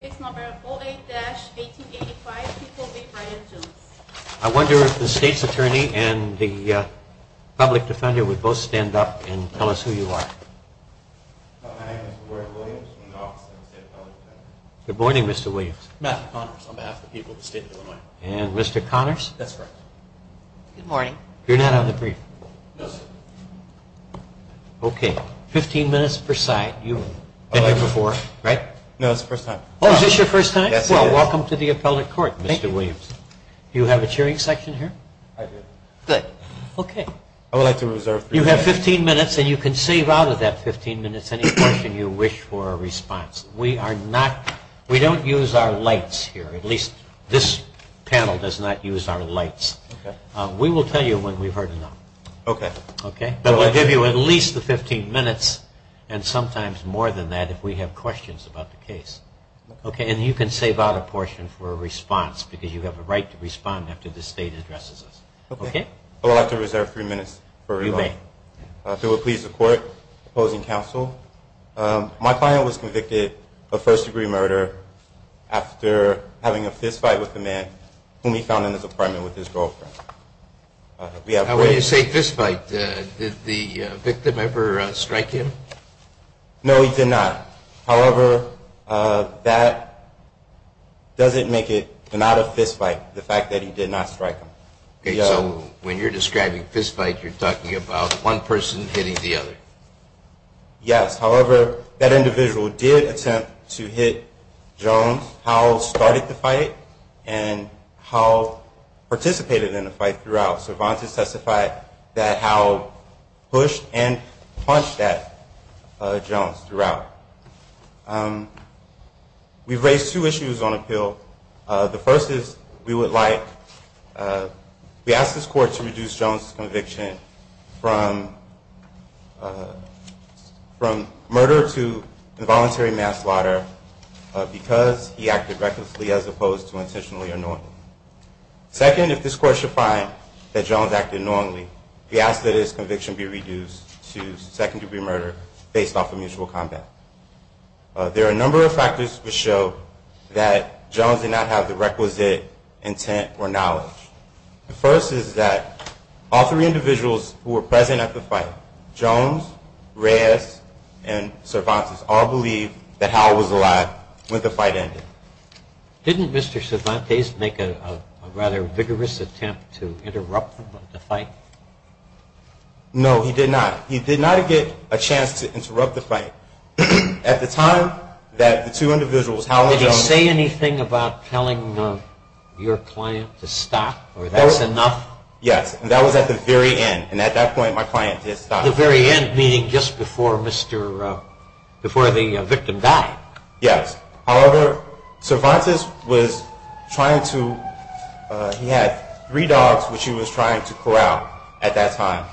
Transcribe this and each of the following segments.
I wonder if the state's attorney and the public defender would both stand up and tell us who you are. Good morning, Mr. Williams. Matthew Connors on behalf of the people of the state of Illinois. And Mr. Connors? That's correct. Good morning. You're not on the brief? No, sir. Okay. Fifteen minutes per side. You've been here before, right? No, it's the first time. Oh, is this your first time? Yes, it is. Well, welcome to the appellate court, Mr. Williams. Thank you. Do you have a cheering section here? I do. Good. Okay. I would like to reserve three minutes. You have 15 minutes, and you can save out of that 15 minutes any question you wish for a response. We are not – we don't use our lights here. At least this panel does not use our lights. Okay. We will tell you when we've heard enough. Okay. But we'll give you at least the 15 minutes and sometimes more than that if we have questions about the case. Okay. And you can save out a portion for a response because you have a right to respond after the state addresses us. Okay. Okay. I would like to reserve three minutes. You may. If it would please the court opposing counsel, my client was convicted of first-degree murder after having a fistfight with a man whom he found in his apartment with his girlfriend. When you say fistfight, did the victim ever strike him? No, he did not. However, that doesn't make it not a fistfight, the fact that he did not strike him. Okay. So when you're describing fistfight, you're talking about one person hitting the other? Yes. However, that individual did attempt to hit Jones. Howell started the fight and Howell participated in the fight throughout. So Vontas testified that Howell pushed and punched at Jones throughout. So the first is we would like, we ask this court to reduce Jones' conviction from murder to involuntary mass slaughter because he acted recklessly as opposed to intentionally or knowingly. Second, if this court should find that Jones acted knowingly, we ask that his conviction be reduced to second-degree murder based off of mutual combat. There are a number of factors which show that Jones did not have the requisite intent or knowledge. The first is that all three individuals who were present at the fight, Jones, Reyes, and Cervantes, all believed that Howell was alive when the fight ended. Didn't Mr. Cervantes make a rather vigorous attempt to interrupt the fight? No, he did not. He did not get a chance to interrupt the fight. At the time that the two individuals, Howell and Jones... Did he say anything about telling your client to stop or that's enough? Yes, and that was at the very end. And at that point, my client did stop. The very end, meaning just before the victim died? Yes. However, Cervantes was trying to, he had three dogs which he was trying to corral at that time.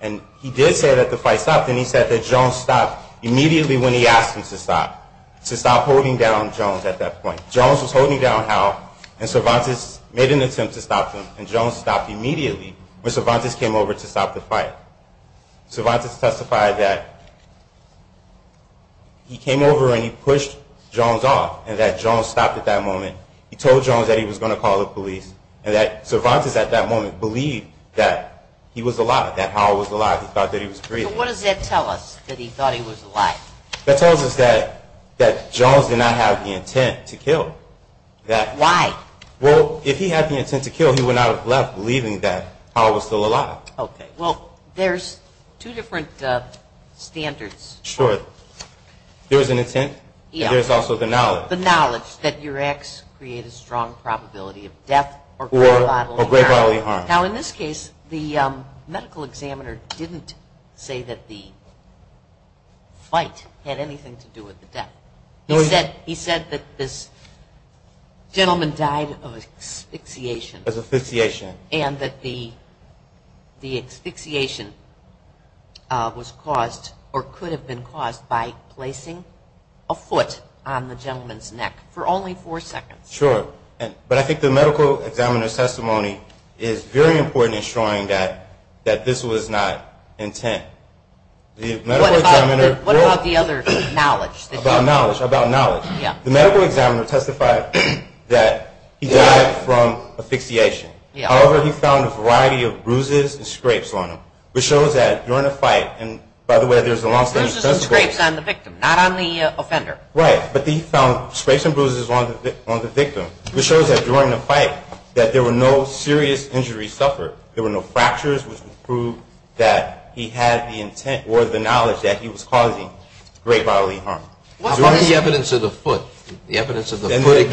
And he did say that the fight stopped and he said that Jones stopped immediately when he asked him to stop, to stop holding down Jones at that point. Jones was holding down Howell and Cervantes made an attempt to stop him and Jones stopped immediately when Cervantes came over to stop the fight. Cervantes testified that he came over and he pushed Jones off and that Jones stopped at that moment. He told Jones that he was going to call the police and that Cervantes at that moment believed that he was alive, that Howell was alive. He thought that he was breathing. So what does that tell us, that he thought he was alive? That tells us that Jones did not have the intent to kill. Why? Well, if he had the intent to kill, he would not have left, believing that Howell was still alive. Okay. Well, there's two different standards. Sure. There's an intent and there's also the knowledge. The knowledge that your acts create a strong probability of death or grave bodily harm. Now, in this case, the medical examiner didn't say that the fight had anything to do with the death. He said that this gentleman died of asphyxiation. Asphyxiation. And that the asphyxiation was caused or could have been caused by placing a foot on the gentleman's neck for only four seconds. Sure. But I think the medical examiner's testimony is very important in showing that this was not intent. What about the other knowledge? About knowledge. The medical examiner testified that he died from asphyxiation. However, he found a variety of bruises and scrapes on him, which shows that during the fight, and by the way, there's a long-standing testimony. Bruises and scrapes on the victim, not on the offender. Right. But he found scrapes and bruises on the victim, which shows that during the fight that there were no serious injuries suffered. There were no fractures, which would prove that he had the intent or the knowledge that he was causing grave bodily harm. What about the evidence of the foot? Maybe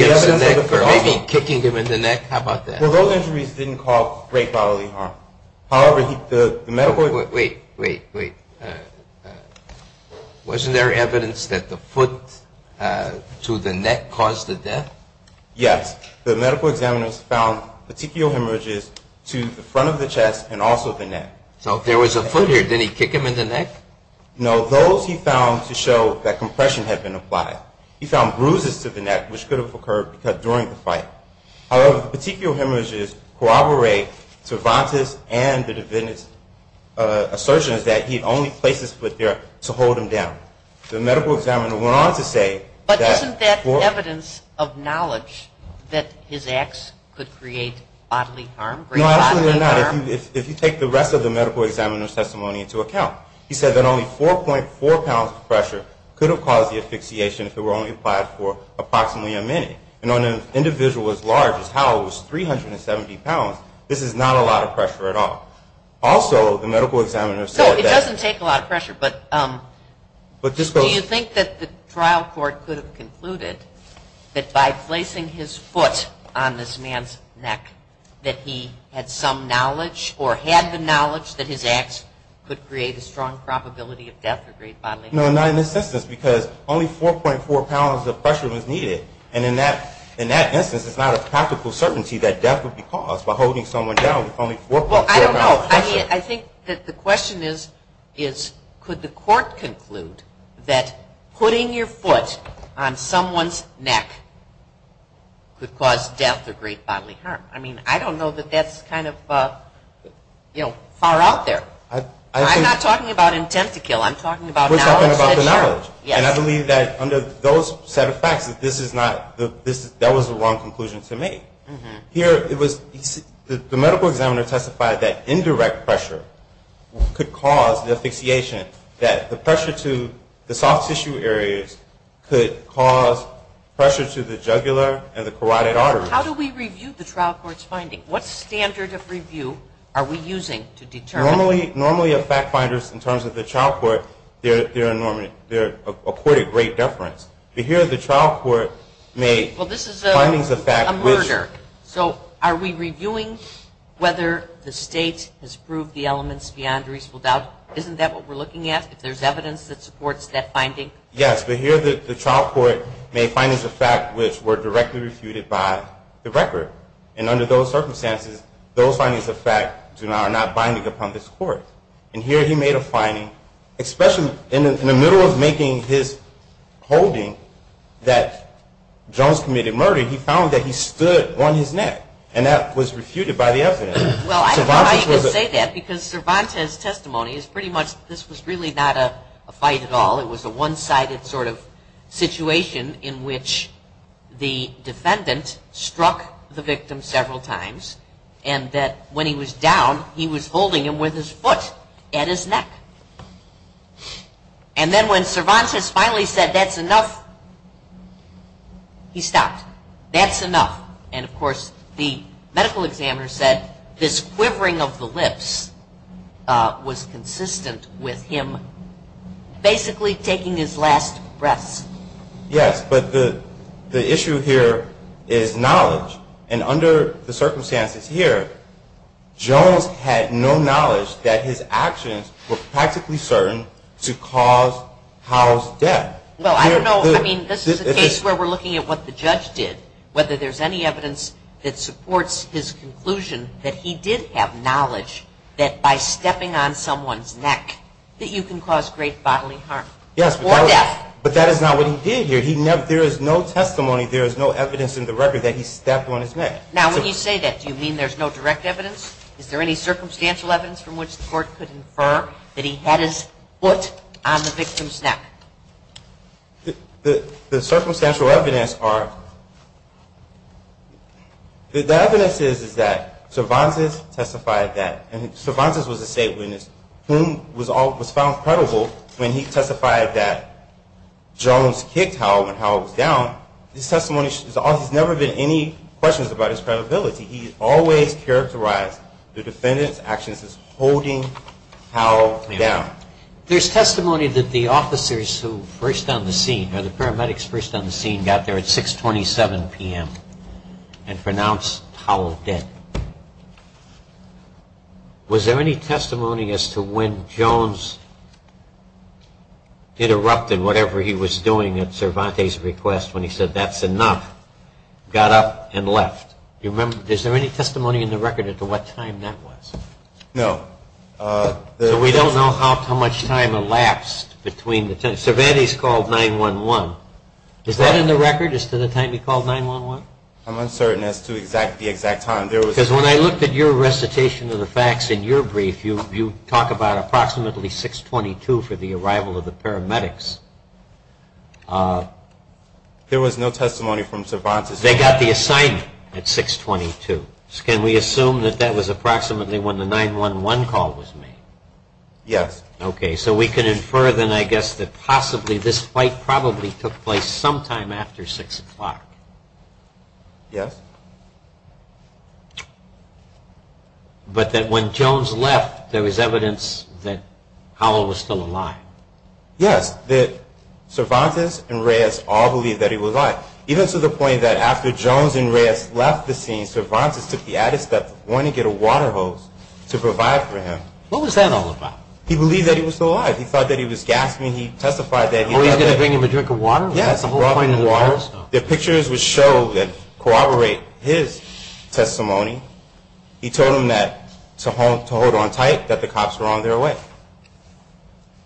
kicking him in the neck. How about that? Well, those injuries didn't cause grave bodily harm. However, the medical – Wait, wait, wait. Wasn't there evidence that the foot to the neck caused the death? Yes. The medical examiner found particular hemorrhages to the front of the chest and also the neck. So if there was a foot here, didn't he kick him in the neck? No. Those he found to show that compression had been applied. He found bruises to the neck, which could have occurred during the fight. However, the particular hemorrhages corroborate Cervantes' and the defendant's assertions that he had only placed his foot there to hold him down. The medical examiner went on to say that – But isn't that evidence of knowledge that his acts could create bodily harm, grave bodily harm? No, absolutely not, if you take the rest of the medical examiner's testimony into account. He said that only 4.4 pounds of pressure could have caused the asphyxiation if it were only applied for approximately a minute. And on an individual as large as Howell, who was 370 pounds, this is not a lot of pressure at all. Also, the medical examiner said that – So it doesn't take a lot of pressure, but do you think that the trial court could have concluded that by placing his foot on this man's neck, that he had some knowledge or had the knowledge that his acts could create a strong probability of death or grave bodily harm? No, not in this instance because only 4.4 pounds of pressure was needed. And in that instance, it's not a practical certainty that death would be caused by holding someone down with only 4.4 pounds of pressure. Well, I don't know. I mean, I think that the question is, could the court conclude that putting your foot on someone's neck could cause death or grave bodily harm? I mean, I don't know that that's kind of far out there. I'm not talking about intent to kill. I'm talking about knowledge. We're talking about the knowledge. Yes. And I believe that under those set of facts that this is not – that was the wrong conclusion to make. Here, it was – the medical examiner testified that indirect pressure could cause the asphyxiation, that the pressure to the soft tissue areas could cause pressure to the jugular and the carotid arteries. How do we review the trial court's finding? What standard of review are we using to determine? Normally, a fact finder, in terms of the trial court, they're accorded great deference. But here, the trial court made findings of fact which – Well, this is a murder. So are we reviewing whether the state has proved the elements beyond reasonable doubt? Isn't that what we're looking at, if there's evidence that supports that finding? Yes. But here, the trial court made findings of fact which were directly refuted by the record. And under those circumstances, those findings of fact are not binding upon this court. And here, he made a finding, especially in the middle of making his holding that Jones committed murder, he found that he stood on his neck. And that was refuted by the evidence. Well, I don't know how you can say that because Cervantes' testimony is pretty much – this was really not a fight at all. It was a one-sided sort of situation in which the defendant struck the victim several times. And that when he was down, he was holding him with his foot at his neck. And then when Cervantes finally said, that's enough, he stopped. That's enough. And of course, the medical examiner said this quivering of the lips was consistent with him basically taking his last breaths. Yes, but the issue here is knowledge. And under the circumstances here, Jones had no knowledge that his actions were practically certain to cause Howe's death. Well, I don't know. I mean, this is a case where we're looking at what the judge did, whether there's any evidence that supports his conclusion that he did have knowledge that by stepping on someone's neck that you can cause great bodily harm or death. Yes, but that is not what he did here. There is no testimony, there is no evidence in the record that he stepped on his neck. Now, when you say that, do you mean there's no direct evidence? Is there any circumstantial evidence from which the court could infer that he had his foot on the victim's neck? The circumstantial evidence are – The evidence is that Cervantes testified that – and Cervantes was a state witness who was found credible when he testified that Jones kicked Howe when Howe was down. His testimony – there's never been any questions about his credibility. He always characterized the defendant's actions as holding Howe down. There's testimony that the officers who first on the scene, or the paramedics first on the scene got there at 6.27 p.m. and pronounced Howe dead. Was there any testimony as to when Jones interrupted whatever he was doing at Cervantes' request when he said, that's enough, got up and left? Do you remember – is there any testimony in the record as to what time that was? No. So we don't know how much time elapsed between the – Cervantes called 9-1-1. Is that in the record as to the time he called 9-1-1? I'm uncertain as to the exact time. Because when I looked at your recitation of the facts in your brief, you talk about approximately 6.22 for the arrival of the paramedics. There was no testimony from Cervantes. They got the assignment at 6.22. Can we assume that that was approximately when the 9-1-1 call was made? Yes. Okay. So we can infer then, I guess, that possibly this fight probably took place sometime after 6 o'clock. Yes. But that when Jones left, there was evidence that Howell was still alive. Yes, that Cervantes and Reyes all believed that he was alive, even to the point that after Jones and Reyes left the scene, Cervantes took the added step of going to get a water hose to provide for him. What was that all about? He believed that he was still alive. He thought that he was gasping. He testified that he thought that... Oh, he was going to bring him a drink of water? Yes, a whole pint of water. The pictures would show and corroborate his testimony. He told them to hold on tight, that the cops were on their way.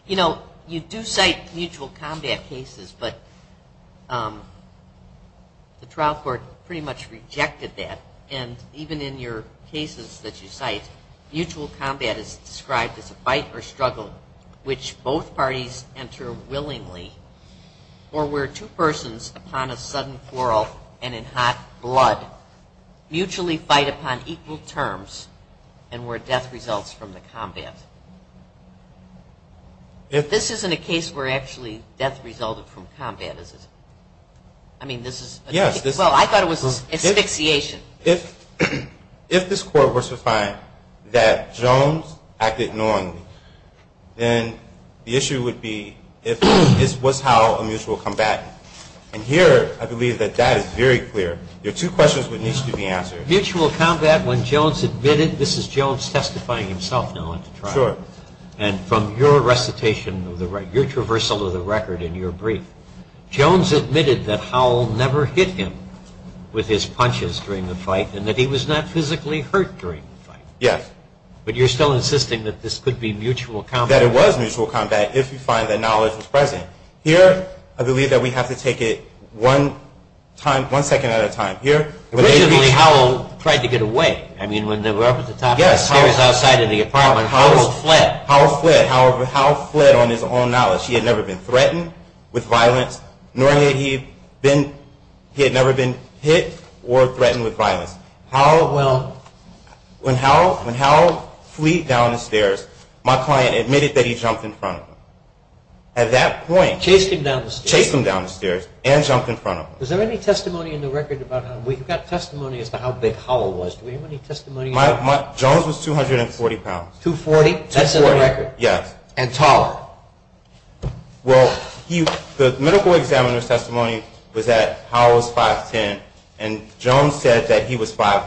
You know, you do cite mutual combat cases, but the trial court pretty much rejected that. Even in your cases that you cite, mutual combat is described as a fight or struggle which both parties enter willingly, or where two persons upon a sudden quarrel and in hot blood mutually fight upon equal terms and where death results from the combat. This isn't a case where actually death resulted from combat, is it? I mean, this is... Yes, this is... Well, I thought it was asphyxiation. If this court were to find that Jones acted knowingly, then the issue would be if this was how a mutual combatant, and here I believe that that is very clear. There are two questions that need to be answered. Mutual combat when Jones admitted, this is Jones testifying himself now at the trial, and from your recitation, your traversal of the record in your brief, Jones admitted that Howell never hit him with his punches during the fight and that he was not physically hurt during the fight. Yes. But you're still insisting that this could be mutual combat. That it was mutual combat if you find that knowledge was present. Here, I believe that we have to take it one second at a time. Originally, Howell tried to get away. I mean, when they were up at the top of the stairs outside in the apartment, Howell fled. Howell fled. However, Howell fled on his own knowledge. He had never been threatened with violence, nor had he been hit or threatened with violence. Howell fled down the stairs. My client admitted that he jumped in front of him. At that point. Chased him down the stairs. Chased him down the stairs and jumped in front of him. Is there any testimony in the record about Howell? We've got testimony as to how big Howell was. Do we have any testimony? Jones was 240 pounds. 240? That's in the record? Yes. And taller? Well, the medical examiner's testimony was that Howell was 5'10". And Jones said that he was 5'5".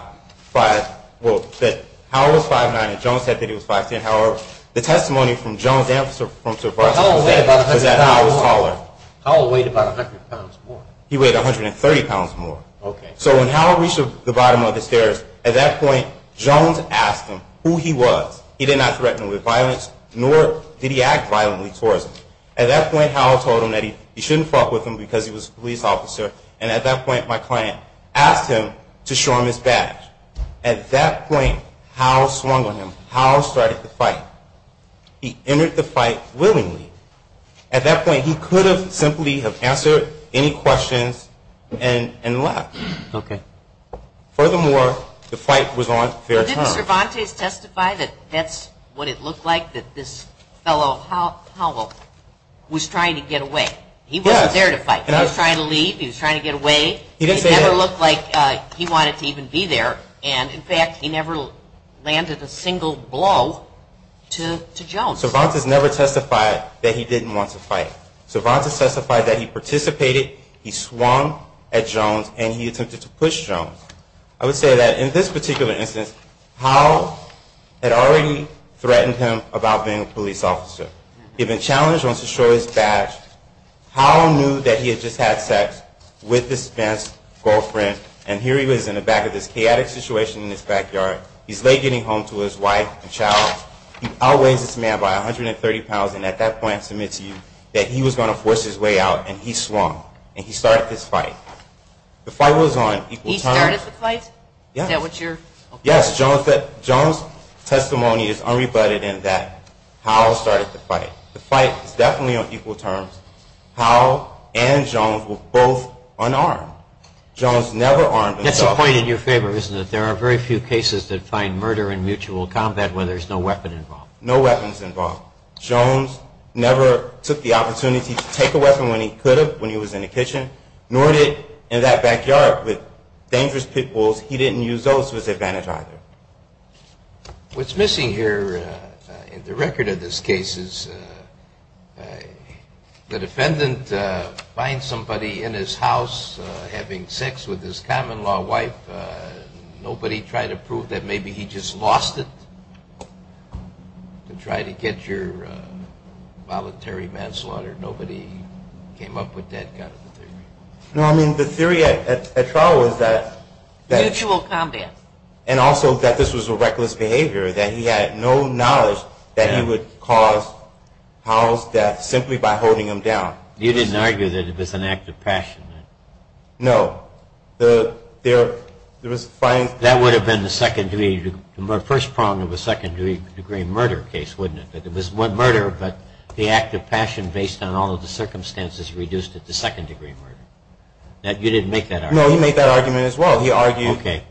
Well, that Howell was 5'9". And Jones said that he was 5'10". However, the testimony from Jones and from Sir Barsky was that Howell was taller. Howell weighed about 100 pounds more. He weighed 130 pounds more. Okay. So when Howell reached the bottom of the stairs, at that point, Jones asked him who he was. He did not threaten him with violence, nor did he act violently towards him. At that point, Howell told him that he shouldn't fight with him because he was a police officer. And at that point, my client asked him to show him his badge. At that point, Howell swung on him. Howell started the fight. He entered the fight willingly. At that point, he could have simply have answered any questions and left. Okay. Furthermore, the fight was on fair terms. Didn't Cervantes testify that that's what it looked like, that this fellow, Howell, was trying to get away? Yes. He wasn't there to fight. He was trying to leave. He was trying to get away. He didn't say that. It never looked like he wanted to even be there. And, in fact, he never landed a single blow to Jones. Cervantes never testified that he didn't want to fight. Cervantes testified that he participated, he swung at Jones, and he attempted to push Jones. I would say that, in this particular instance, Howell had already threatened him about being a police officer. He had been challenged on to show his badge. Howell knew that he had just had sex with his ex-girlfriend, and here he was in the back of this chaotic situation in his backyard. He's late getting home to his wife and child. He outweighs this man by 130 pounds, and at that point submits to you that he was going to force his way out, and he swung. And he started this fight. The fight was on equal terms. He started the fight? Yes. Is that what you're? Yes. Jones' testimony is unrebutted in that Howell started the fight. The fight is definitely on equal terms. Howell and Jones were both unarmed. Jones never armed himself. That's a point in your favor, isn't it? There are very few cases that find murder in mutual combat where there's no weapon involved. No weapons involved. Jones never took the opportunity to take a weapon when he could have, when he was in the kitchen, nor did in that backyard with dangerous pit bulls. He didn't use those to his advantage either. What's missing here in the record of this case is the defendant finds somebody in his house having sex with his common-law wife. Nobody tried to prove that maybe he just lost it to try to get your voluntary manslaughter. Nobody came up with that kind of a theory. No, I mean, the theory at trial was that. Mutual combat. And also that this was a reckless behavior, that he had no knowledge that he would cause Howell's death simply by holding him down. You didn't argue that it was an act of passion. No. That would have been the first prong of a second-degree murder case, wouldn't it? It was murder, but the act of passion based on all of the circumstances reduced it to second-degree murder. You didn't make that argument? No, he made that argument as well. Okay.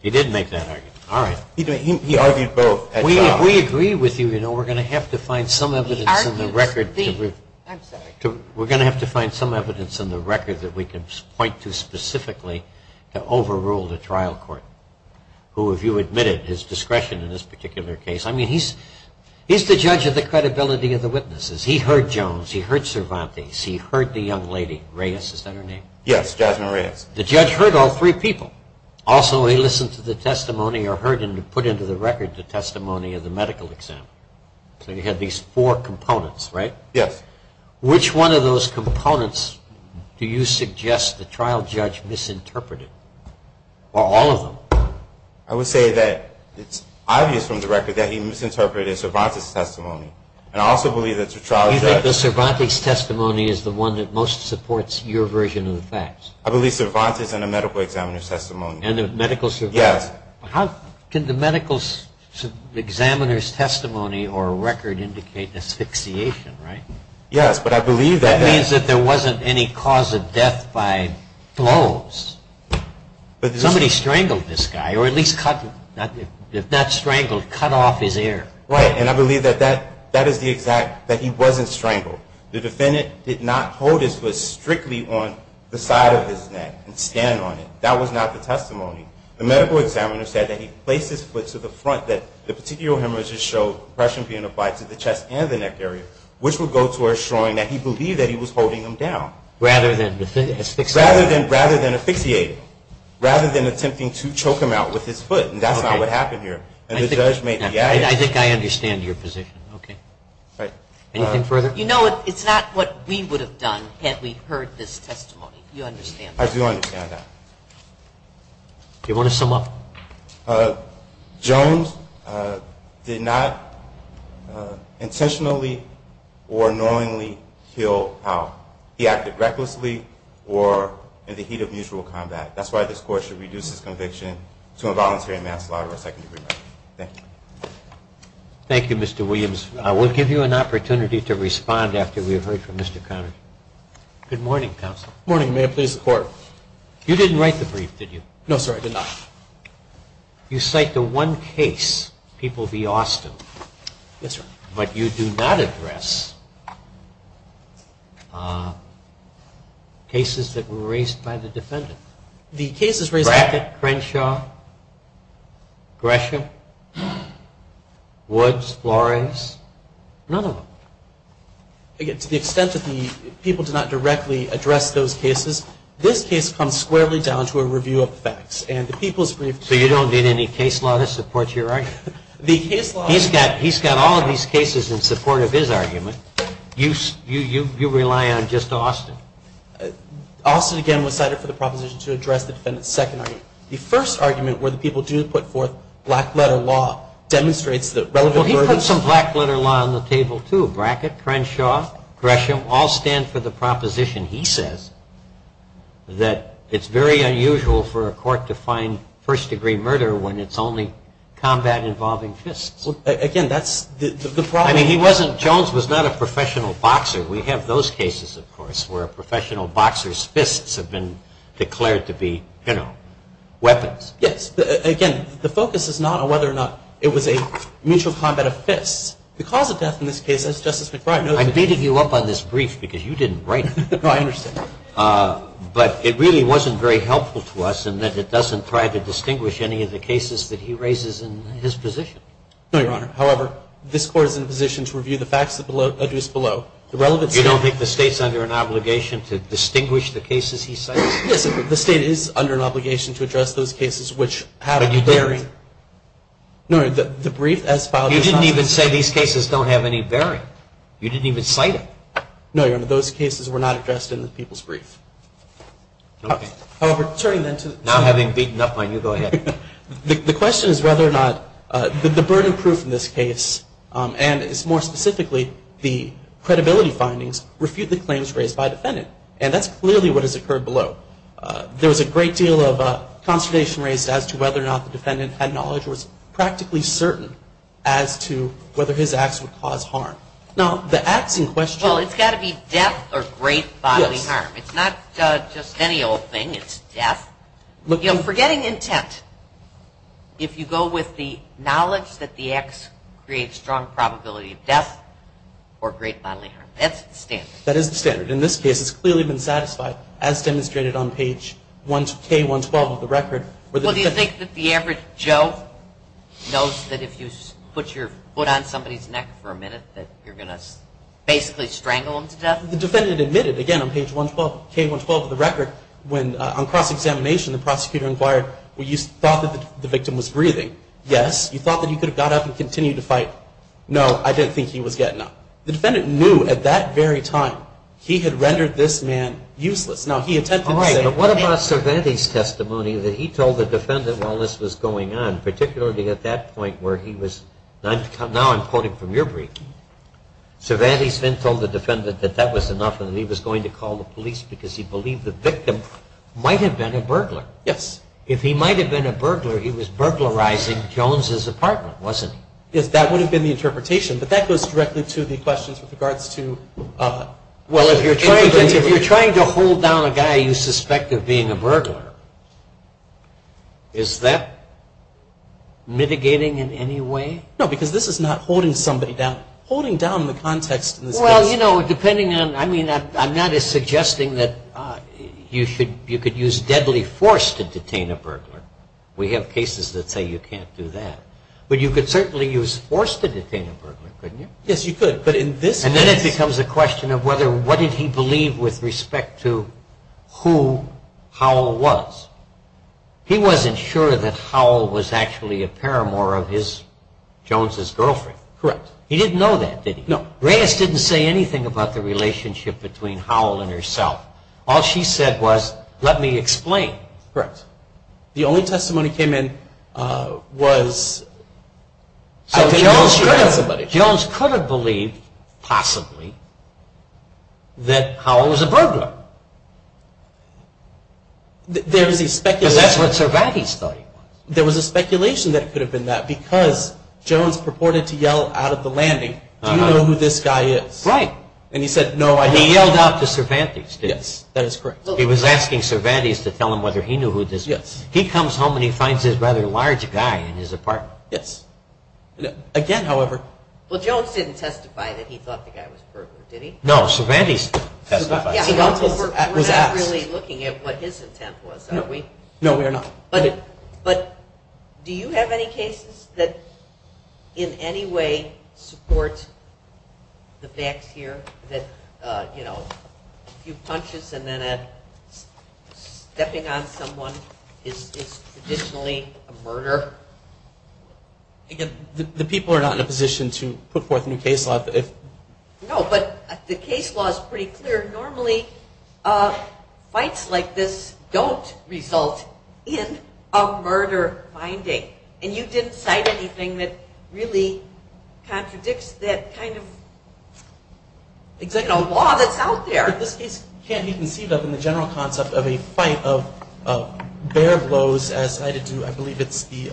He didn't make that argument. All right. He argued both at trial. We agree with you. You know, we're going to have to find some evidence in the record. I'm sorry. We're going to have to find some evidence in the record that we can point to specifically to overrule the trial court. Who, if you admit it, is discretion in this particular case. I mean, he's the judge of the credibility of the witnesses. He heard Jones. He heard Cervantes. He heard the young lady, Reyes. Is that her name? Yes, Jasmine Reyes. The judge heard all three people. Also, he listened to the testimony or heard and put into the record the testimony of the medical examiner. So you had these four components, right? Yes. Which one of those components do you suggest the trial judge misinterpreted? Or all of them? I would say that it's obvious from the record that he misinterpreted Cervantes' testimony. And I also believe that the trial judge – You think that Cervantes' testimony is the one that most supports your version of the facts? I believe Cervantes' and the medical examiner's testimony. And the medical – Yes. How can the medical examiner's testimony or record indicate asphyxiation, right? Yes, but I believe that – That means that there wasn't any cause of death by blows. Somebody strangled this guy or at least cut – if not strangled, cut off his ear. Right. And I believe that that is the exact – that he wasn't strangled. The defendant did not hold his foot strictly on the side of his neck and stand on it. That was not the testimony. The medical examiner said that he placed his foot to the front, that the particular hemorrhages show compression being applied to the chest and the neck area, which would go towards showing that he believed that he was holding him down. Rather than asphyxiating him. Rather than asphyxiating him. Rather than attempting to choke him out with his foot. And that's not what happened here. And the judge made the argument – I think I understand your position. Okay. Right. Anything further? You know, it's not what we would have done had we heard this testimony. You understand that. I do understand that. Do you want to sum up? Jones did not intentionally or knowingly kill Powell. He acted recklessly or in the heat of mutual combat. That's why this Court should reduce his conviction to involuntary manslaughter or second-degree murder. Thank you. Thank you, Mr. Williams. We'll give you an opportunity to respond after we've heard from Mr. Conner. Good morning, Counsel. Good morning. May it please the Court. You didn't write the brief, did you? No, sir, I did not. You cite the one case, People v. Austin. Yes, sir. But you do not address cases that were raised by the defendant. The cases raised by the defendant? Crenshaw? Gresham? Woods? Flores? None of them. To the extent that the people did not directly address those cases, this case comes squarely down to a review of the facts. So you don't need any case law to support your argument? He's got all of these cases in support of his argument. You rely on just Austin. Austin, again, was cited for the proposition to address the defendant's second argument. The first argument, where the people do put forth black-letter law, demonstrates the relevant verdicts. Well, he put some black-letter law on the table, too. Brackett, Crenshaw, Gresham all stand for the proposition, he says, that it's very unusual for a court to find first-degree murder when it's only combat involving fists. Again, that's the problem. I mean, he wasn't – Jones was not a professional boxer. We have those cases, of course, where a professional boxer's fists have been declared to be, you know, weapons. Yes. Again, the focus is not on whether or not it was a mutual combat of fists. The cause of death in this case, as Justice McBride noted – I beated you up on this brief because you didn't write it. No, I understand. But it really wasn't very helpful to us in that it doesn't try to distinguish any of the cases that he raises in his position. No, Your Honor. However, this Court is in a position to review the facts that are adduced below. You don't think the State's under an obligation to distinguish the cases he cites? Yes, Your Honor. The State is under an obligation to address those cases which have a bearing – But you didn't. No, Your Honor. The brief as filed – You didn't even say these cases don't have any bearing. You didn't even cite them. No, Your Honor. Those cases were not addressed in the people's brief. Okay. However, turning then to – Now having beaten up on you, go ahead. The question is whether or not the burden proof in this case, and more specifically the credibility findings, refute the claims raised by the defendant. And that's clearly what has occurred below. There was a great deal of consternation raised as to whether or not the defendant had knowledge or was practically certain as to whether his acts would cause harm. Now, the acts in question – Well, it's got to be death or great bodily harm. It's not just any old thing. It's death. Forgetting intent, if you go with the knowledge that the acts create strong probability of death or great bodily harm, that's the standard. That is the standard. In this case, it's clearly been satisfied as demonstrated on page K-112 of the record. Well, do you think that the average Joe knows that if you put your foot on somebody's neck for a minute Now, the defendant admitted, again, on page K-112 of the record, when on cross-examination the prosecutor inquired, well, you thought that the victim was breathing. Yes. You thought that you could have got up and continued to fight. No, I didn't think he was getting up. The defendant knew at that very time he had rendered this man useless. Now, he attempted to say – All right, but what about Cervantes' testimony that he told the defendant while this was going on, particularly at that point where he was – Now I'm quoting from your brief. Cervantes then told the defendant that that was enough and that he was going to call the police because he believed the victim might have been a burglar. Yes. If he might have been a burglar, he was burglarizing Jones' apartment, wasn't he? Yes, that would have been the interpretation, but that goes directly to the questions with regards to – Well, if you're trying to hold down a guy you suspect of being a burglar, is that mitigating in any way? No, because this is not holding somebody down. Holding down the context in this case – Well, you know, depending on – I mean, I'm not suggesting that you could use deadly force to detain a burglar. We have cases that say you can't do that. But you could certainly use force to detain a burglar, couldn't you? Yes, you could, but in this case – And then it becomes a question of whether – what did he believe with respect to who Howell was? He wasn't sure that Howell was actually a paramour of his – Jones' girlfriend. Correct. He didn't know that, did he? No. Reyes didn't say anything about the relationship between Howell and herself. All she said was, let me explain. Correct. The only testimony came in was – I didn't know she had somebody. Jones could have believed, possibly, that Howell was a burglar. There was a speculation – Because that's what Cervantes thought he was. There was a speculation that it could have been that, because Jones purported to yell out of the landing, do you know who this guy is? Right. And he said, no, I don't. He yelled out to Cervantes, didn't he? Yes, that is correct. He was asking Cervantes to tell him whether he knew who this – Yes. He comes home and he finds this rather large guy in his apartment. Yes. Again, however – Well, Jones didn't testify that he thought the guy was a burglar, did he? No, Cervantes testified. Cervantes was asked. We're not really looking at what his intent was, are we? No, we are not. But do you have any cases that in any way support the facts here, that a few punches and then stepping on someone is traditionally a murder? Again, the people are not in a position to put forth a new case law. No, but the case law is pretty clear. Normally fights like this don't result in a murder finding, and you didn't cite anything that really contradicts that kind of executive law that's out there. This case can't be conceived of in the general concept of a fight of bare blows as cited to, I believe it's the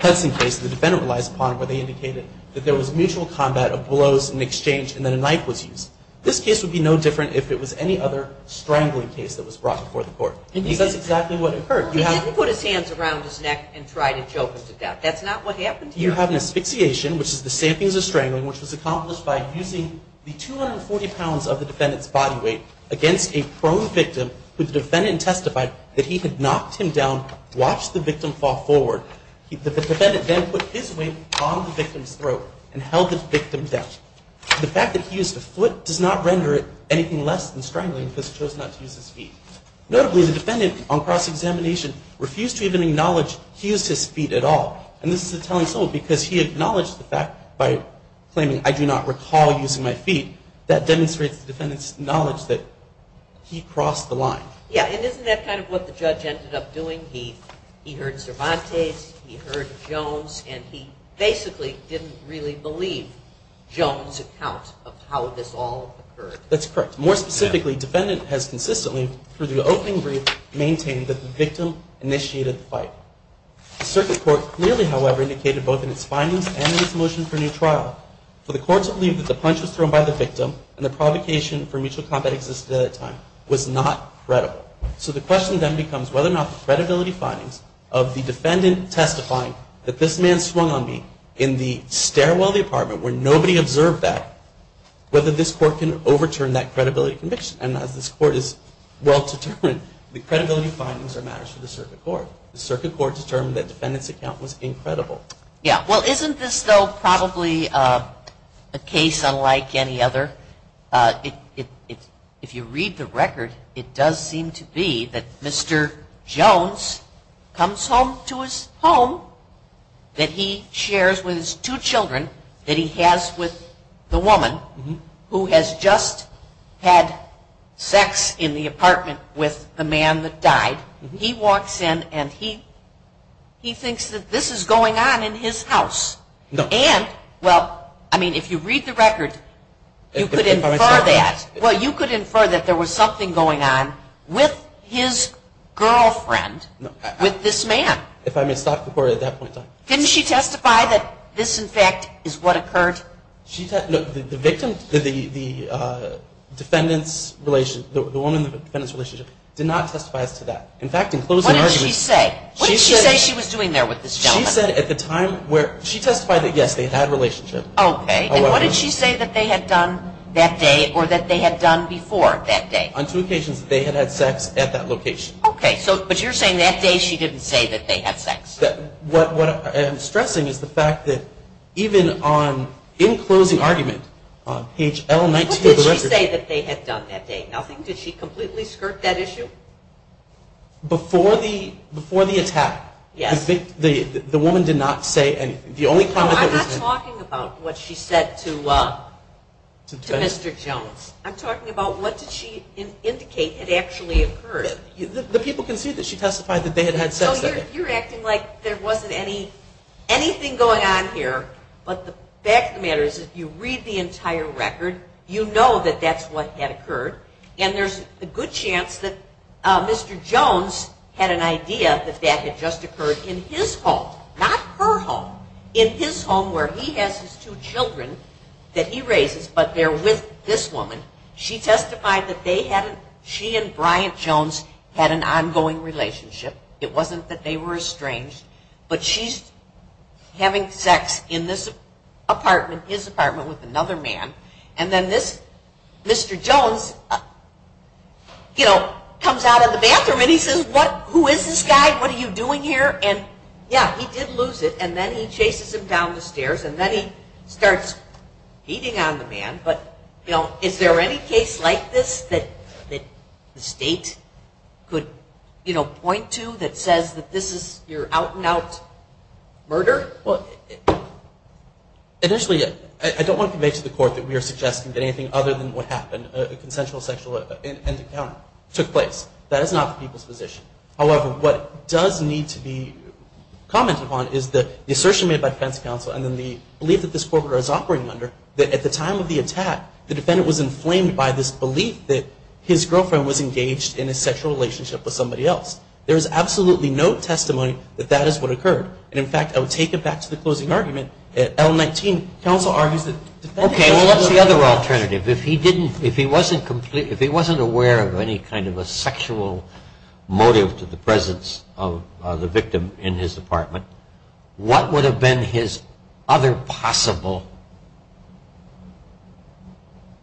Hudson case, the defendant relies upon where they indicated that there was mutual combat of blows and exchange and then a knife was used. This case would be no different if it was any other strangling case that was brought before the court. That's exactly what occurred. He didn't put his hands around his neck and try to choke him to death. That's not what happened here. You have an asphyxiation, which is the same thing as a strangling, which was accomplished by using the 240 pounds of the defendant's body weight against a prone victim who the defendant testified that he had knocked him down, watched the victim fall forward. The defendant then put his weight on the victim's throat and held the victim down. The fact that he used a foot does not render it anything less than strangling because he chose not to use his feet. Notably, the defendant on cross-examination refused to even acknowledge he used his feet at all. And this is a telling soul because he acknowledged the fact by claiming, I do not recall using my feet. That demonstrates the defendant's knowledge that he crossed the line. Yeah, and isn't that kind of what the judge ended up doing? He heard Cervantes, he heard Jones, and he basically didn't really believe Jones' account of how this all occurred. That's correct. More specifically, defendant has consistently, through the opening brief, maintained that the victim initiated the fight. The circuit court clearly, however, indicated both in its findings and in its motion for new trial, for the court to believe that the punch was thrown by the victim and the provocation for mutual combat existed at that time was not credible. So the question then becomes whether or not the credibility findings of the defendant testifying that this man swung on me in the stairwell of the apartment where nobody observed that, whether this court can overturn that credibility conviction. And as this court is well-determined, the credibility findings are matters for the circuit court. The circuit court determined that defendant's account was incredible. Yeah, well, isn't this, though, probably a case unlike any other? If you read the record, it does seem to be that Mr. Jones comes home to his home that he shares with his two children that he has with the woman who has just had sex in the apartment with the man that died. He walks in and he thinks that this is going on in his house. And, well, I mean, if you read the record, you could infer that. Well, you could infer that there was something going on with his girlfriend, with this man. If I may stop the court at that point in time. Didn't she testify that this, in fact, is what occurred? No, the victim, the defendant's relationship, the woman in the defendant's relationship did not testify as to that. In fact, in closing arguments. What did she say? What did she say she was doing there with this gentleman? She testified that, yes, they had a relationship. Okay. And what did she say that they had done that day or that they had done before that day? On two occasions they had had sex at that location. Okay. But you're saying that day she didn't say that they had sex? What I'm stressing is the fact that even in closing argument, on page L19 of the record. What did she say that they had done that day? Did she completely skirt that issue? Before the attack. Yes. The woman did not say anything. No, I'm not talking about what she said to Mr. Jones. I'm talking about what did she indicate had actually occurred. The people can see that she testified that they had had sex that day. So you're acting like there wasn't anything going on here, but the fact of the matter is if you read the entire record, you know that that's what had occurred, and there's a good chance that Mr. Jones had an idea that that had just occurred in his home. Not her home. In his home where he has his two children that he raises, but they're with this woman. She testified that she and Bryant Jones had an ongoing relationship. It wasn't that they were estranged, but she's having sex in this apartment, his apartment with another man. And then this Mr. Jones, you know, comes out of the bathroom and he says, who is this guy? What are you doing here? And, yeah, he did lose it. And then he chases him down the stairs, and then he starts beating on the man. But, you know, is there any case like this that the state could, you know, point to that says that this is your out-and-out murder? Well, initially I don't want to make to the court that we are suggesting that anything other than what happened, a consensual sexual encounter took place. That is not the people's position. However, what does need to be commented upon is the assertion made by defense counsel and then the belief that this corporate was operating under, that at the time of the attack, the defendant was inflamed by this belief that his girlfriend was engaged in a sexual relationship with somebody else. There is absolutely no testimony that that is what occurred. And, in fact, I would take it back to the closing argument at L-19. Counsel argues that the defendant. Okay, well, what's the other alternative? If he didn't, if he wasn't completely, if he wasn't aware of any kind of a sexual motive to the presence of the victim in his apartment, what would have been his other possible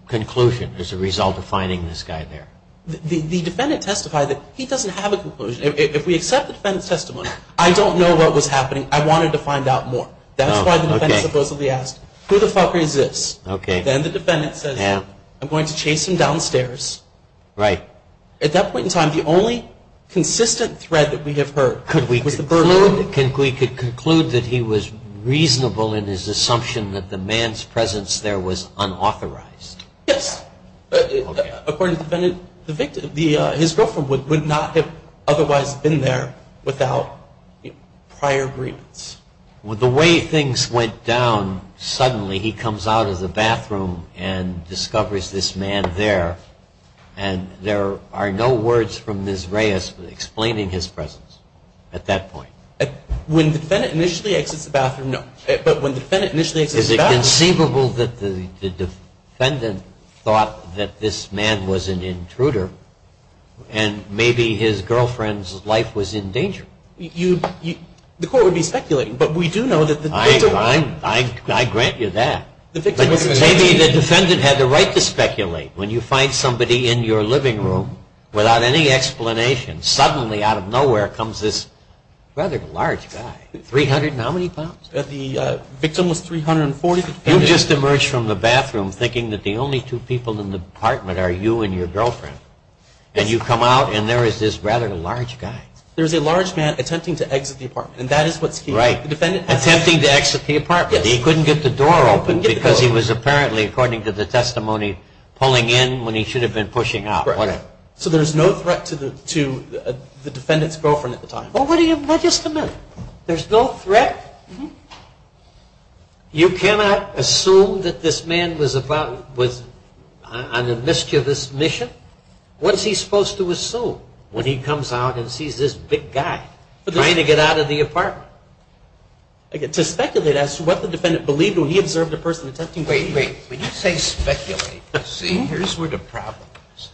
conclusion as a result of finding this guy there? The defendant testified that he doesn't have a conclusion. If we accept the defendant's testimony, I don't know what was happening. I wanted to find out more. That's why the defendant supposedly asked, who the fuck is this? Okay. Then the defendant says, I'm going to chase him downstairs. Right. At that point in time, the only consistent thread that we have heard. Could we conclude that he was reasonable in his assumption that the man's presence there was unauthorized? Yes. According to the victim, his girlfriend would not have otherwise been there without prior agreements. The way things went down, suddenly he comes out of the bathroom and discovers this man there, and there are no words from Ms. Reyes explaining his presence at that point. When the defendant initially exits the bathroom, but when the defendant initially exits the bathroom. Is it conceivable that the defendant thought that this man was an intruder, and maybe his girlfriend's life was in danger? The court would be speculating, but we do know that the victim. I grant you that. Maybe the defendant had the right to speculate. When you find somebody in your living room without any explanation, suddenly out of nowhere comes this rather large guy. 300 and how many pounds? The victim was 340. You just emerged from the bathroom thinking that the only two people in the apartment are you and your girlfriend, and you come out and there is this rather large guy. There is a large man attempting to exit the apartment, and that is what's key. Attempting to exit the apartment. He couldn't get the door open because he was apparently, according to the testimony, pulling in when he should have been pushing out. So there's no threat to the defendant's girlfriend at the time. Just a minute. There's no threat? You cannot assume that this man was on a mischievous mission. What's he supposed to assume when he comes out and sees this big guy trying to get out of the apartment? To speculate, that's what the defendant believed when he observed the person attempting to escape. Wait, wait. When you say speculate, here's where the problem is.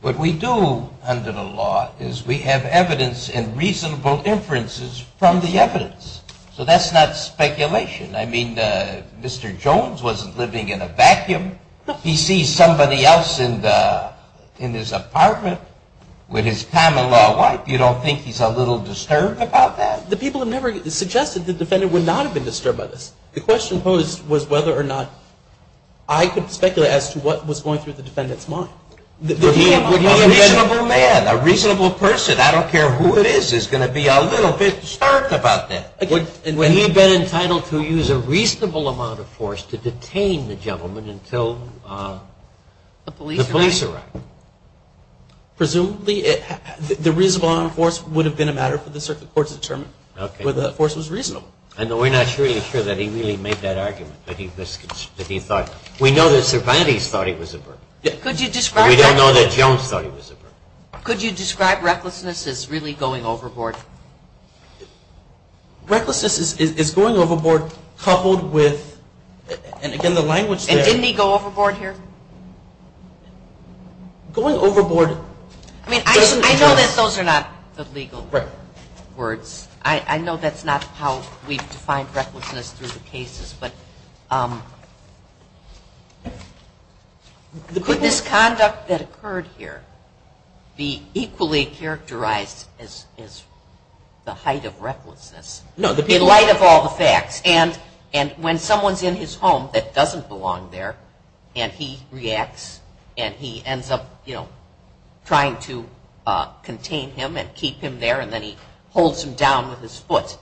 What we do under the law is we have evidence and reasonable inferences from the evidence. So that's not speculation. I mean, Mr. Jones wasn't living in a vacuum. He sees somebody else in his apartment with his Pamela wife. You don't think he's a little disturbed about that? The people have never suggested the defendant would not have been disturbed by this. The question posed was whether or not I could speculate as to what was going through the defendant's mind. A reasonable man, a reasonable person, I don't care who it is, is going to be a little bit disturbed about that. Would he have been entitled to use a reasonable amount of force to detain the person until the police arrived? Presumably. The reasonable amount of force would have been a matter for the circuit court to determine whether that force was reasonable. I know we're not really sure that he really made that argument, but he thought. We know that Sir Bandy thought he was a burglar. Could you describe that? But we don't know that Jones thought he was a burglar. Could you describe recklessness as really going overboard? Recklessness is going overboard coupled with, and again the language there. And didn't he go overboard here? Going overboard. I know that those are not the legal words. I know that's not how we've defined recklessness through the cases, but could this conduct that occurred here be equally characterized as the height of recklessness in light of all the facts? And when someone's in his home that doesn't belong there and he reacts and he ends up, you know, trying to contain him and keep him there and then he holds him down with his foot,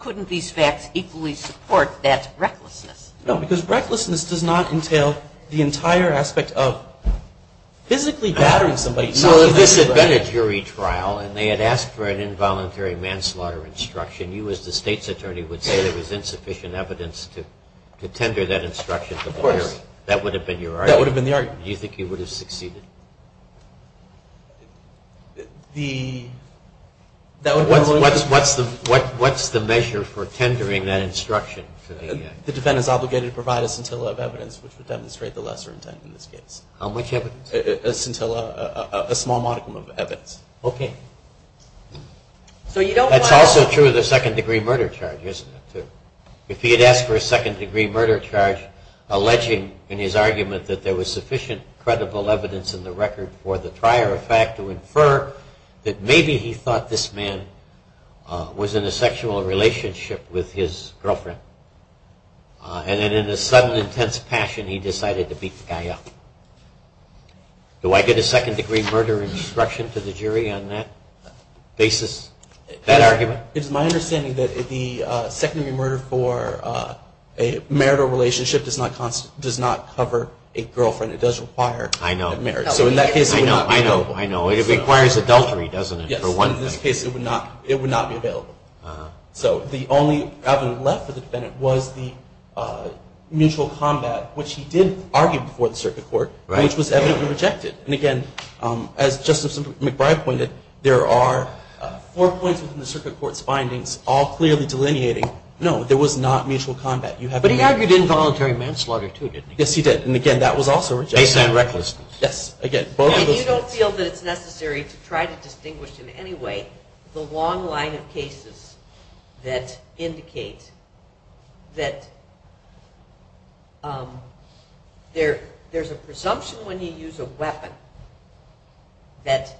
couldn't these facts equally support that recklessness? No, because recklessness does not entail the entire aspect of physically battering somebody. Well, if this had been a jury trial and they had asked for an involuntary manslaughter instruction, you as the state's attorney would say there was insufficient evidence to tender that instruction to the jury. Of course. That would have been your argument? That would have been the argument. Do you think you would have succeeded? What's the measure for tendering that instruction? The defendant is obligated to provide a scintilla of evidence, which would demonstrate the lesser intent in this case. How much evidence? A scintilla, a small modicum of evidence. Okay. That's also true of the second-degree murder charge, isn't it? If he had asked for a second-degree murder charge, alleging in his argument that there was sufficient credible evidence in the record for the prior fact to infer that maybe he thought this man was in a sexual relationship with his girlfriend and then in a sudden intense passion he decided to beat the guy up. Do I get a second-degree murder instruction to the jury on that basis, that argument? It's my understanding that the second-degree murder for a marital relationship does not cover a girlfriend. It does require a marriage. I know. So in that case it would not be available. I know. It requires adultery, doesn't it, for one thing? Yes. In this case it would not be available. So the only avenue left for the defendant was the mutual combat, which he did argue before the circuit court, which was evidently rejected. And, again, as Justice McBride pointed, there are four points within the circuit court's findings all clearly delineating, no, there was not mutual combat. But he argued involuntary manslaughter, too, didn't he? Yes, he did. And, again, that was also rejected. Based on recklessness. Yes. Again, both of those things. You don't feel that it's necessary to try to distinguish in any way the long line of cases that indicate that there's a presumption when you use a weapon that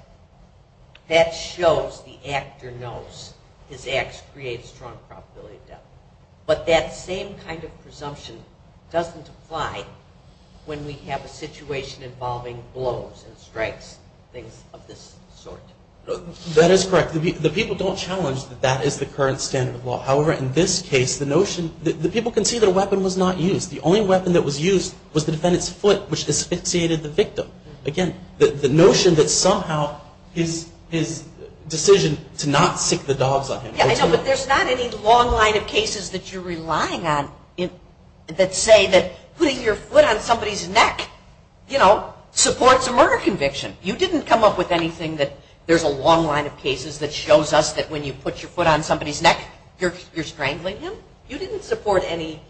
that shows the actor knows his ax creates strong probability of death. But that same kind of presumption doesn't apply when we have a situation involving blows and strikes, things of this sort. That is correct. The people don't challenge that that is the current standard of law. However, in this case, the notion, the people can see that a weapon was not used. The only weapon that was used was the defendant's foot, which asphyxiated the victim. Again, the notion that somehow his decision to not stick the dogs on him. Yes, I know, but there's not any long line of cases that you're relying on that say that putting your foot on somebody's neck, you know, supports a murder conviction. You didn't come up with anything that there's a long line of cases that shows us that when you put your foot on somebody's neck, you're strangling him? You didn't support any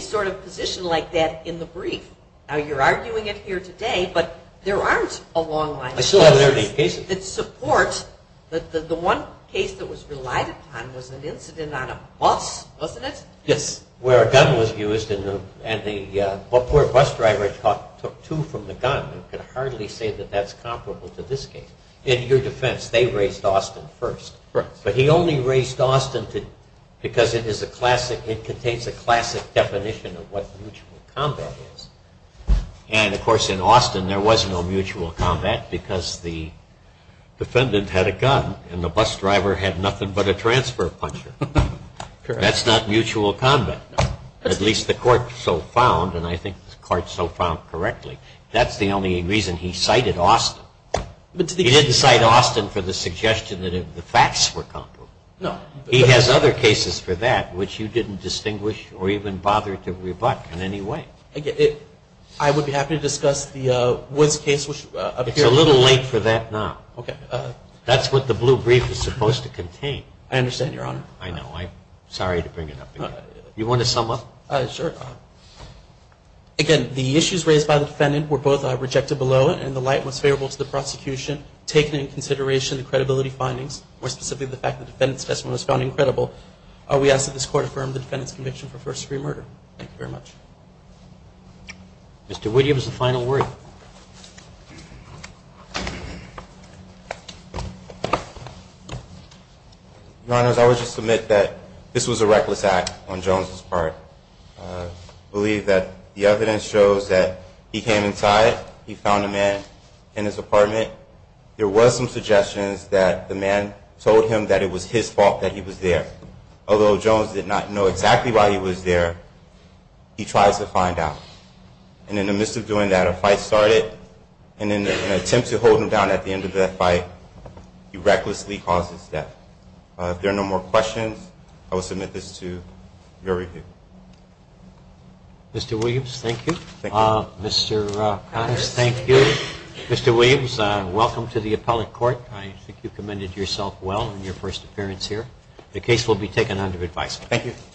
sort of position like that in the brief. Now, you're arguing it here today, but there aren't a long line of cases. I still haven't heard any cases. That support that the one case that was relied upon was an incident on a bus, wasn't it? Yes, where a gun was used and the poor bus driver took two from the gun and could hardly say that that's comparable to this case. In your defense, they raised Austin first. Right. But he only raised Austin because it contains a classic definition of what mutual combat is. And, of course, in Austin there was no mutual combat because the defendant had a gun and the bus driver had nothing but a transfer puncher. That's not mutual combat. At least the court so found, and I think the court so found correctly, that's the only reason he cited Austin. He didn't cite Austin for the suggestion that the facts were comparable. No. He has other cases for that which you didn't distinguish or even bother to rebut in any way. I would be happy to discuss the Woods case. It's a little late for that now. Okay. That's what the blue brief is supposed to contain. I understand, Your Honor. I know. I'm sorry to bring it up again. You want to sum up? Sure. Again, the issues raised by the defendant were both rejected below and the light was favorable to the prosecution, taking into consideration the credibility findings, more specifically the fact that the defendant's testimony was found incredible. We ask that this court affirm the defendant's conviction for first degree murder. Thank you very much. Mr. Whittier, this is the final word. Your Honors, I would just submit that this was a reckless act on Jones' part. I believe that the evidence shows that he came inside. He found a man in his apartment. There was some suggestions that the man told him that it was his fault that he was there. Although Jones did not know exactly why he was there, he tries to find out. And in the midst of doing that, a fight started. And in an attempt to hold him down at the end of that fight, he recklessly caused his death. If there are no more questions, I will submit this to your review. Mr. Williams, thank you. Thank you. Mr. Connors, thank you. Mr. Williams, welcome to the Appellate Court. I think you commended yourself well in your first appearance here. The case will be taken under advice. Thank you.